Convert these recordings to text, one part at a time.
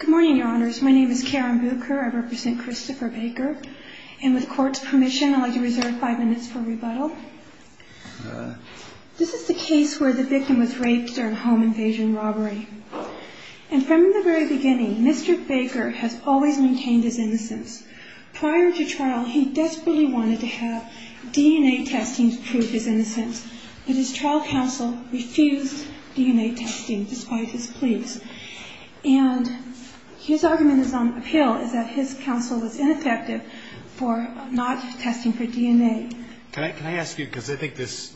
Good morning, Your Honors. My name is Karen Bucher. I represent Christopher Baker. And with court's permission, I'd like to reserve five minutes for rebuttal. This is the case where the victim was raped during a home invasion robbery. And from the very beginning, Mr. Baker has always maintained his innocence. Prior to trial, he desperately wanted to have DNA testing to prove his innocence, but his trial counsel refused DNA testing, despite his pleas. And his argument is on appeal, is that his counsel was ineffective for not testing for DNA. Can I ask you, because I think there's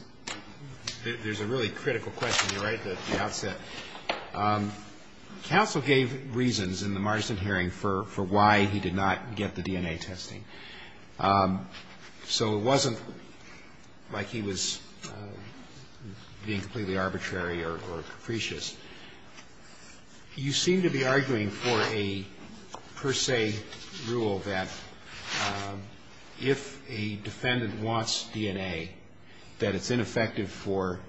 a really critical question you write at the outset. Counsel gave reasons in the Marston hearing for why he did not get the DNA testing. So it wasn't like he was being completely arbitrary or capricious. You seem to be arguing for a per se rule that if a defendant wants DNA, that it's ineffective for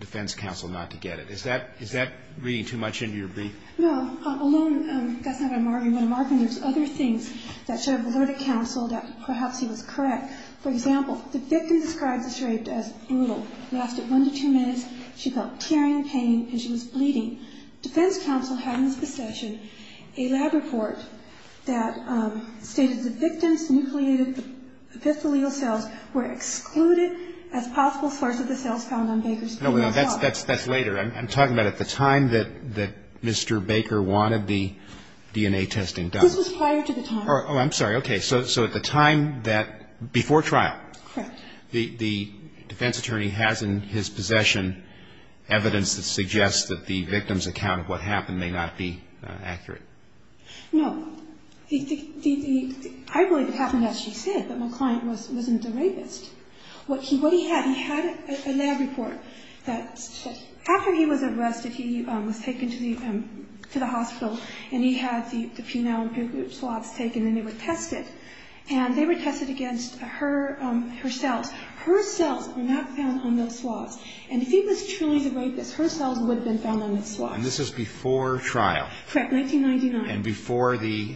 defense counsel not to get it. Is that reading too much into your brief? No. Alone, that's not what I'm arguing, but I'm arguing there's other things that should have alerted counsel that perhaps he was correct. For example, the victim describes the rape as brutal. Lasted one to two minutes, she felt tearing pain, and she was bleeding. Defense counsel had in his procession a lab report that stated the victim's nucleated epithelial cells were excluded as possible source of the cells found on Baker's body. No, that's later. I'm talking about at the time that Mr. Baker wanted the DNA testing done. This was prior to the time. Oh, I'm sorry. Okay. So at the time before trial, the defense attorney has in his possession evidence that suggests that the victim's account of what happened may not be accurate. No. I believe it happened as she said, that my client wasn't a rapist. What he had, he had a lab report that after he was arrested, he was taken to the hospital, and he had the penile swaths taken, and they were tested. And they were tested against her cells. Her cells were not found on those swaths. And if he was truly the rapist, her cells would have been found on those swaths. And this is before trial. Correct, 1999. And before the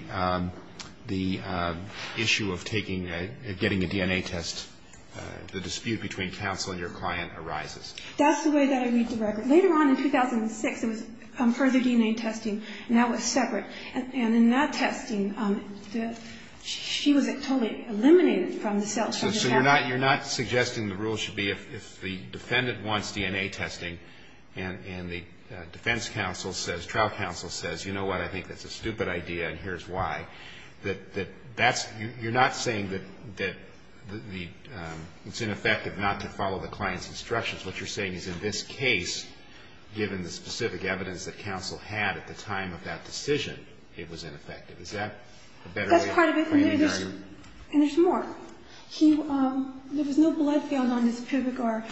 issue of taking, getting a DNA test, the dispute between counsel and your client arises. That's the way that I read the record. Later on in 2006, there was further DNA testing, and that was separate. And in that testing, she was totally eliminated from the cell. So you're not suggesting the rule should be if the defendant wants DNA testing, and the defense counsel says, trial counsel says, you know what, I think that's a stupid idea, and here's why. You're not saying that it's ineffective not to follow the client's instructions. What you're saying is in this case, given the specific evidence that counsel had at the time of that decision, it was ineffective. Is that a better way of explaining the argument? And there's more. There was no blood found on his pubic or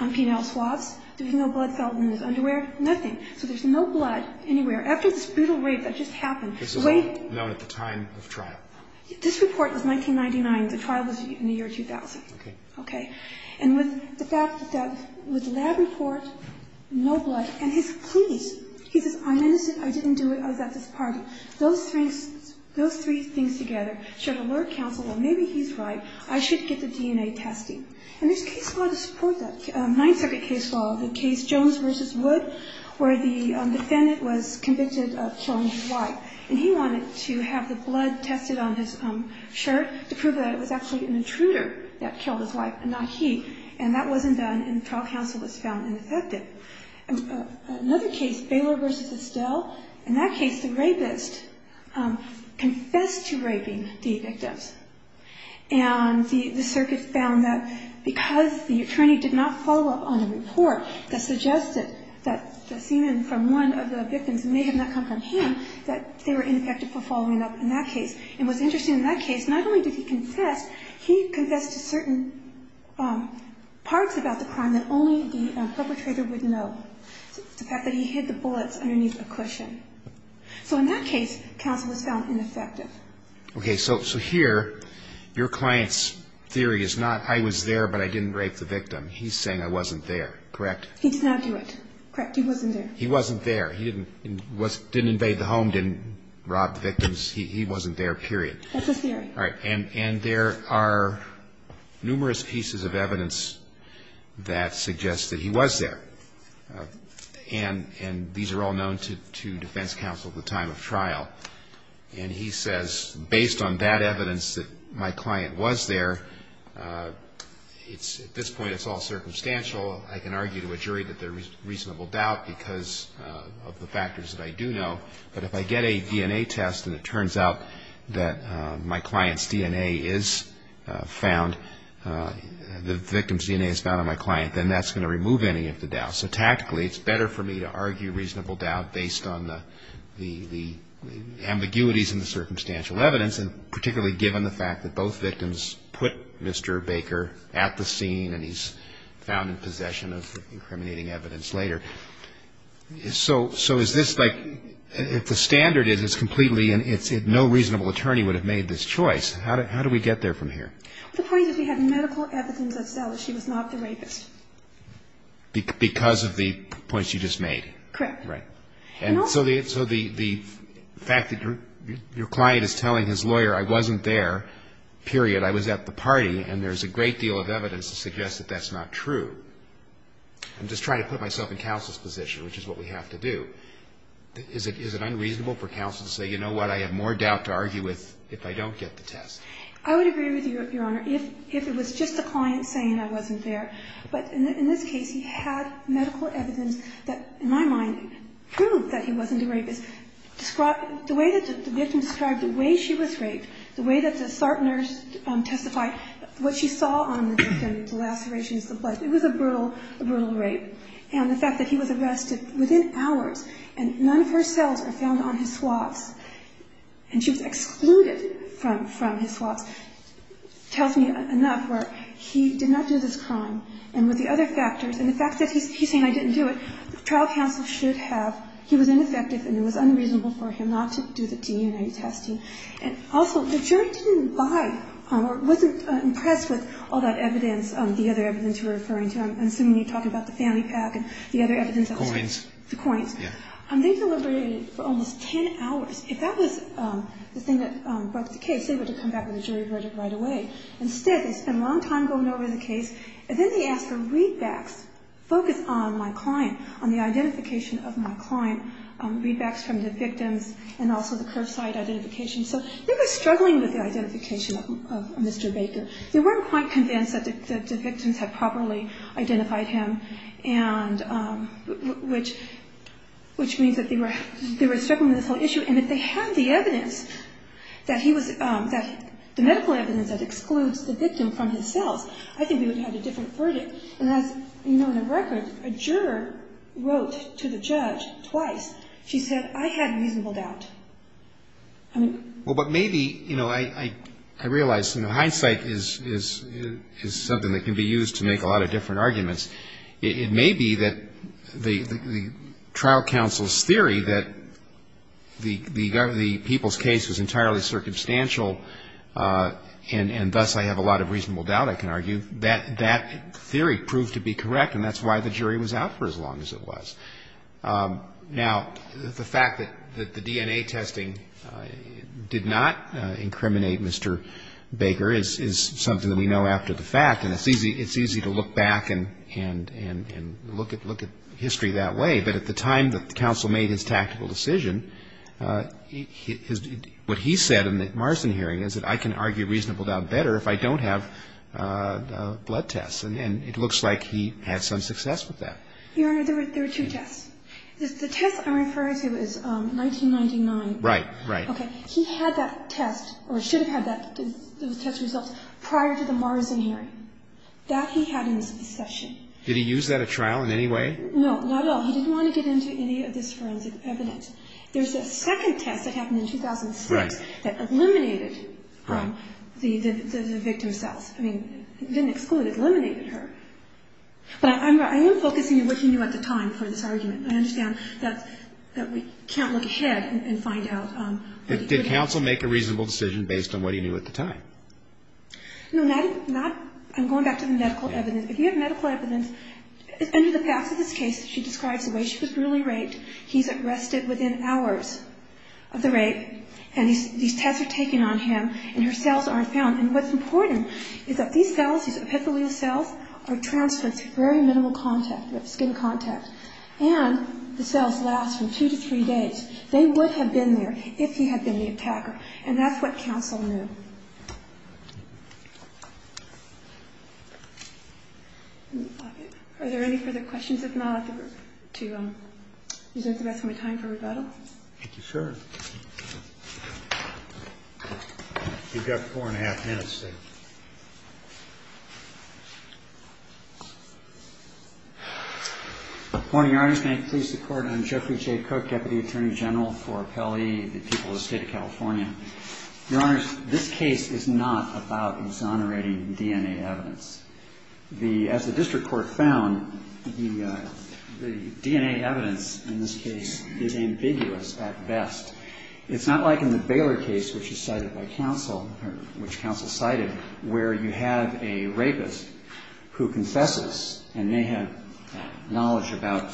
on penile swaths. There was no blood found in his underwear. Nothing. So there's no blood anywhere. After this brutal rape that just happened. This was all known at the time of trial. This report was 1999. The trial was in the year 2000. Okay. Okay. And with the fact that with that report, no blood, and his pleas. He says, I'm innocent, I didn't do it, I was at this party. Those three things together should alert counsel, well, maybe he's right, I should get the DNA testing. And there's case law to support that. Ninth Circuit case law, the case Jones v. Wood, where the defendant was convicted of killing his wife. And he wanted to have the blood tested on his shirt to prove that it was actually an intruder that killed his wife and not he. And that wasn't done, and trial counsel was found ineffective. Another case, Baylor v. Estelle. In that case, the rapist confessed to raping the victims. And the circuit found that because the attorney did not follow up on a report that suggested that the semen from one of the victims may have not come from him, that they were ineffective for following up in that case. And what's interesting in that case, not only did he confess, he confessed to certain parts about the crime that only the perpetrator would know. The fact that he hid the bullets underneath a cushion. So in that case, counsel was found ineffective. Okay, so here, your client's theory is not, I was there, but I didn't rape the victim. He's saying I wasn't there, correct? He did not do it. Correct, he wasn't there. He wasn't there. He didn't invade the home, didn't rob the victims. He wasn't there, period. That's his theory. All right, and there are numerous pieces of evidence that suggest that he was there. And these are all known to defense counsel at the time of trial. And he says, based on that evidence that my client was there, at this point it's all circumstantial. I can argue to a jury that there's reasonable doubt because of the factors that I do know. But if I get a DNA test and it turns out that my client's DNA is found, the victim's DNA is found on my client, then that's going to remove any of the doubt. So tactically, it's better for me to argue reasonable doubt based on the ambiguities and the circumstantial evidence, and particularly given the fact that both victims put Mr. Baker at the scene and he's found in possession of incriminating evidence later. So is this like, if the standard is it's completely and no reasonable attorney would have made this choice, how do we get there from here? The point is we have medical evidence that says she was not the rapist. Because of the points you just made? Correct. Right. And so the fact that your client is telling his lawyer I wasn't there, period, I was at the party, and there's a great deal of evidence to suggest that that's not true. I'm just trying to put myself in counsel's position, which is what we have to do. Is it unreasonable for counsel to say, you know what, I have more doubt to argue with if I don't get the test? I would agree with you, Your Honor, if it was just the client saying I wasn't there. But in this case, he had medical evidence that, in my mind, proved that he wasn't the rapist. The way that the victim described the way she was raped, the way that the SART nurse testified, what she saw on the victim, the lacerations, the blood, it was a brutal rape. And the fact that he was arrested within hours and none of her cells are found on his swabs and she was excluded from his swabs tells me enough where he did not do this crime. And with the other factors, and the fact that he's saying I didn't do it, the trial counsel should have. He was ineffective and it was unreasonable for him not to do the DNA testing. And also, the jury didn't buy or wasn't impressed with all that evidence, the other evidence you were referring to. I'm assuming you're talking about the family pack and the other evidence. The coins. The coins. Yeah. They deliberated for almost 10 hours. If that was the thing that brought the case, they would have come back with a jury verdict right away. Instead, they spent a long time going over the case, and then they asked for readbacks, focus on my client, on the identification of my client, readbacks from the victims, and also the curbside identification. So they were struggling with the identification of Mr. Baker. They weren't quite convinced that the victims had properly identified him, which means that they were struggling with this whole issue. And if they had the evidence, the medical evidence that excludes the victim from his cells, I think we would have had a different verdict. And as you know, in the record, a juror wrote to the judge twice. She said, I had reasonable doubt. Well, but maybe, you know, I realize, you know, hindsight is something that can be used to make a lot of different arguments. It may be that the trial counsel's theory that the people's case was entirely circumstantial and thus I have a lot of reasonable doubt, I can argue, that theory proved to be correct, and that's why the jury was out for as long as it was. Now, the fact that the DNA testing did not incriminate Mr. Baker is something that we know after the fact, and it's easy to look back and look at history that way. But at the time that the counsel made his tactical decision, what he said in the Marston hearing is that I can argue reasonable doubt better if I don't have blood tests, and it looks like he had some success with that. Your Honor, there were two tests. The test I'm referring to is 1999. Right, right. Okay. He had that test or should have had those test results prior to the Marston hearing. That he had in his possession. Did he use that at trial in any way? No, not at all. He didn't want to get into any of this forensic evidence. There's a second test that happened in 2006 that eliminated the victim's cells. I mean, it didn't exclude, it eliminated her. But I am focusing on what he knew at the time for this argument. I understand that we can't look ahead and find out. Did counsel make a reasonable decision based on what he knew at the time? No, not at all. I'm going back to the medical evidence. If you have medical evidence, under the past of this case, she describes the way she was brutally raped. He's arrested within hours of the rape. And these tests are taken on him, and her cells aren't found. And what's important is that these cells, these epithelial cells, are transplants with very minimal skin contact. And the cells last from two to three days. They would have been there if he had been the attacker. And that's what counsel knew. Are there any further questions? If not, I'd like to use the rest of my time for rebuttal. Thank you, sir. You've got four and a half minutes. Good morning, Your Honors. May it please the Court. I'm Geoffrey J. Cook, Deputy Attorney General for Appellee, the people of the State of California. Your Honors, this case is not about exonerating DNA evidence. As the district court found, the DNA evidence in this case is ambiguous at best. It's not like in the Baylor case, which is cited by counsel, which counsel cited, where you have a rapist who confesses and may have knowledge about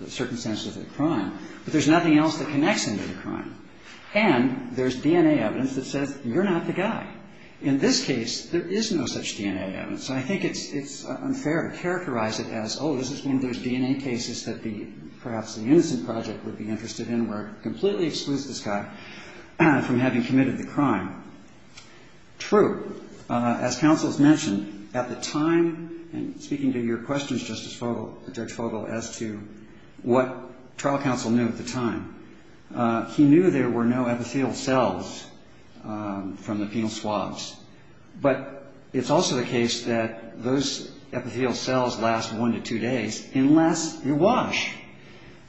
the circumstances of the crime, but there's nothing else that connects him to the crime. And there's DNA evidence that says you're not the guy. In this case, there is no such DNA evidence. So I think it's unfair to characterize it as, oh, this is one of those DNA cases that perhaps the Innocent Project would be interested in, where it completely excludes this guy from having committed the crime. True, as counsel has mentioned, at the time, and speaking to your questions, Justice Fogel, Judge Fogel, as to what trial counsel knew at the time, he knew there were no epithelial cells from the penal swabs. But it's also the case that those epithelial cells last one to two days, unless you wash.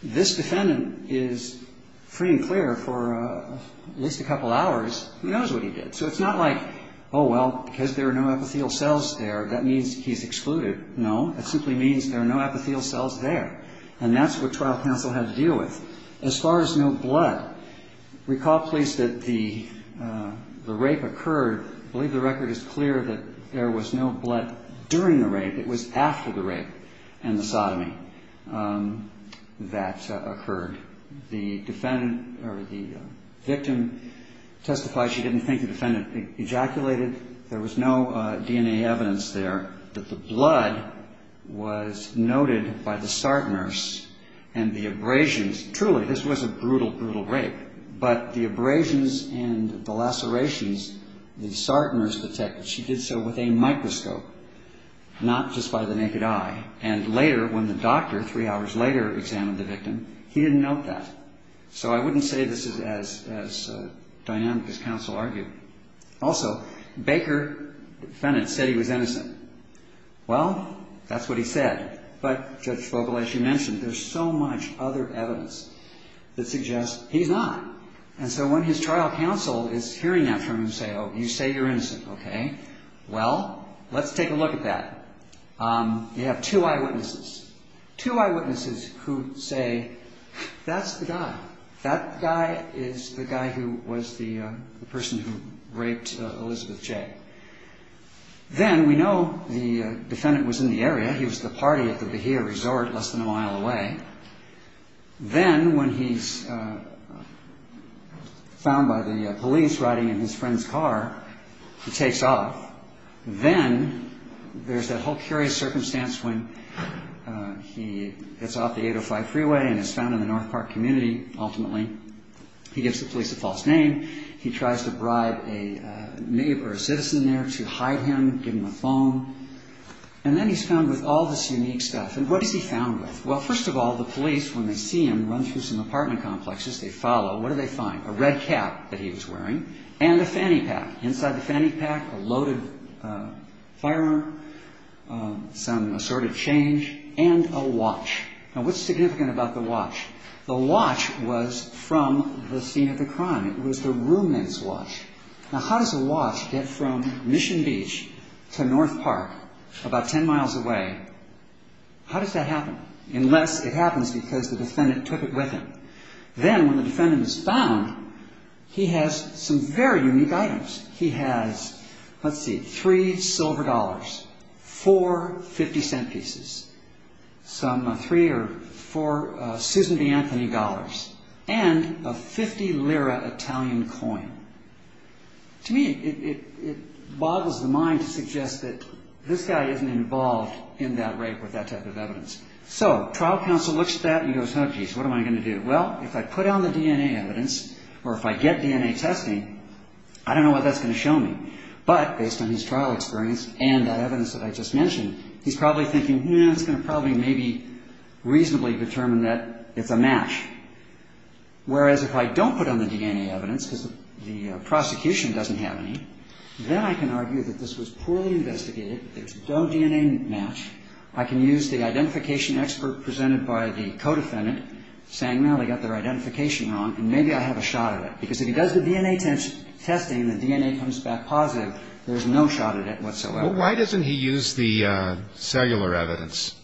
This defendant is free and clear for at least a couple hours. He knows what he did. So it's not like, oh, well, because there are no epithelial cells there, that means he's excluded. No, that simply means there are no epithelial cells there. And that's what trial counsel had to deal with. As far as no blood, recall, please, that the rape occurred. I believe the record is clear that there was no blood during the rape. It was after the rape and the sodomy that occurred. The victim testified she didn't think the defendant ejaculated. There was no DNA evidence there that the blood was noted by the SART nurse and the abrasions. Truly, this was a brutal, brutal rape. But the abrasions and the lacerations, the SART nurse detected. She did so with a microscope, not just by the naked eye. And later, when the doctor, three hours later, examined the victim, he didn't note that. So I wouldn't say this is as dynamic as counsel argued. Also, Baker, the defendant, said he was innocent. Well, that's what he said. But Judge Vogel, as you mentioned, there's so much other evidence that suggests he's not. And so when his trial counsel is hearing that from him and saying, oh, you say you're innocent, okay, well, let's take a look at that. You have two eyewitnesses. Two eyewitnesses who say, that's the guy. That guy is the guy who was the person who raped Elizabeth Jay. Then we know the defendant was in the area. He was at the party at the Bahia Resort less than a mile away. Then when he's found by the police riding in his friend's car, he takes off. Then there's that whole curious circumstance when he gets off the 805 freeway and is found in the North Park community, ultimately. He gives the police a false name. He tries to bribe a neighbor, a citizen there, to hide him, give him a phone. And then he's found with all this unique stuff. And what is he found with? Well, first of all, the police, when they see him run through some apartment complexes, they follow. What do they find? A red cap that he was wearing and a fanny pack. Inside the fanny pack, a loaded firearm, some assorted change, and a watch. Now, what's significant about the watch? The watch was from the scene of the crime. It was the ruminant's watch. Now, how does a watch get from Mission Beach to North Park, about 10 miles away? How does that happen? Unless it happens because the defendant took it with him. Then when the defendant is found, he has some very unique items. He has, let's see, three silver dollars, four 50-cent pieces, some three or four Susan B. Anthony dollars, and a 50-lira Italian coin. To me, it boggles the mind to suggest that this guy isn't involved in that rape or that type of evidence. So trial counsel looks at that and goes, oh, geez, what am I going to do? Well, if I put on the DNA evidence or if I get DNA testing, I don't know what that's going to show me. But based on his trial experience and that evidence that I just mentioned, he's probably thinking, hmm, it's going to probably maybe reasonably determine that it's a match. Whereas if I don't put on the DNA evidence because the prosecution doesn't have any, then I can argue that this was poorly investigated, there's no DNA match, I can use the identification expert presented by the co-defendant saying, well, they got their identification wrong, and maybe I have a shot at it. Because if he does the DNA testing and the DNA comes back positive, there's no shot at it whatsoever. Why doesn't he use the cellular evidence?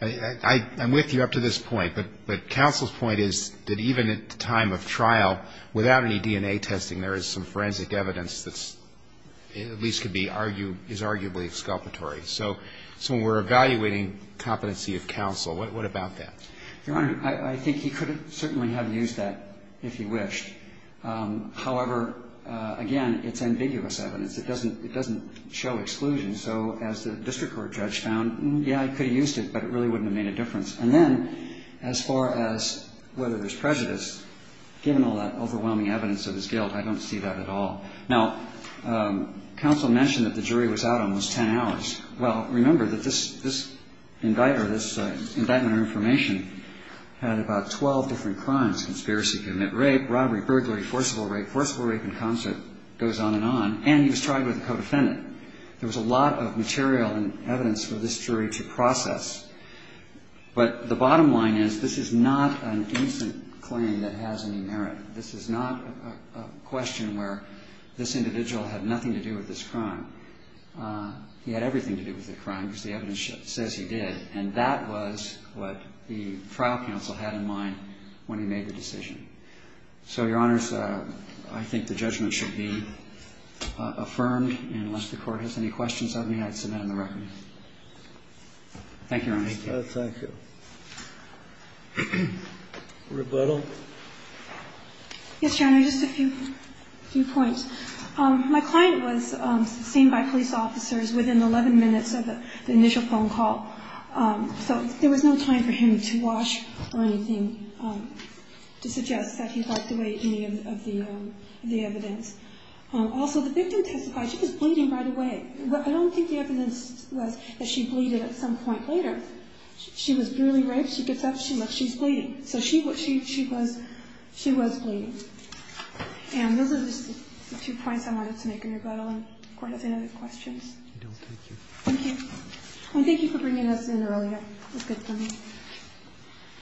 I'm with you up to this point, but counsel's point is that even at the time of trial, without any DNA testing, there is some forensic evidence that at least is arguably exculpatory. So when we're evaluating competency of counsel, what about that? Your Honor, I think he could certainly have used that if he wished. However, again, it's ambiguous evidence. It doesn't show exclusion. So as the district court judge found, yeah, he could have used it, but it really wouldn't have made a difference. And then as far as whether there's prejudice, given all that overwhelming evidence of his guilt, I don't see that at all. Now, counsel mentioned that the jury was out almost 10 hours. Well, remember that this indictment or information had about 12 different crimes, conspiracy to commit rape, robbery, burglary, forcible rape, forcible rape in concert, goes on and on, and he was tried with a co-defendant. There was a lot of material and evidence for this jury to process. But the bottom line is this is not an innocent claim that has any merit. This is not a question where this individual had nothing to do with this crime. He had everything to do with the crime, because the evidence says he did, and that was what the trial counsel had in mind when he made the decision. So, Your Honors, I think the judgment should be affirmed. And unless the Court has any questions, I'd be happy to sit down and recommend. Thank you, Your Honor. Thank you. Rebuttal? Yes, Your Honor, just a few points. My client was seen by police officers within 11 minutes of the initial phone call, so there was no time for him to wash or anything to suggest that he'd like to weigh any of the evidence. Also, the victim testified she was bleeding right away. I don't think the evidence was that she bleeded at some point later. She was barely raped. She gets up. She looks. She's bleeding. So she was bleeding. And those are just the two points I wanted to make in rebuttal. And the Court has any other questions? I don't think so. Thank you. And thank you for bringing us in earlier. It was good for me.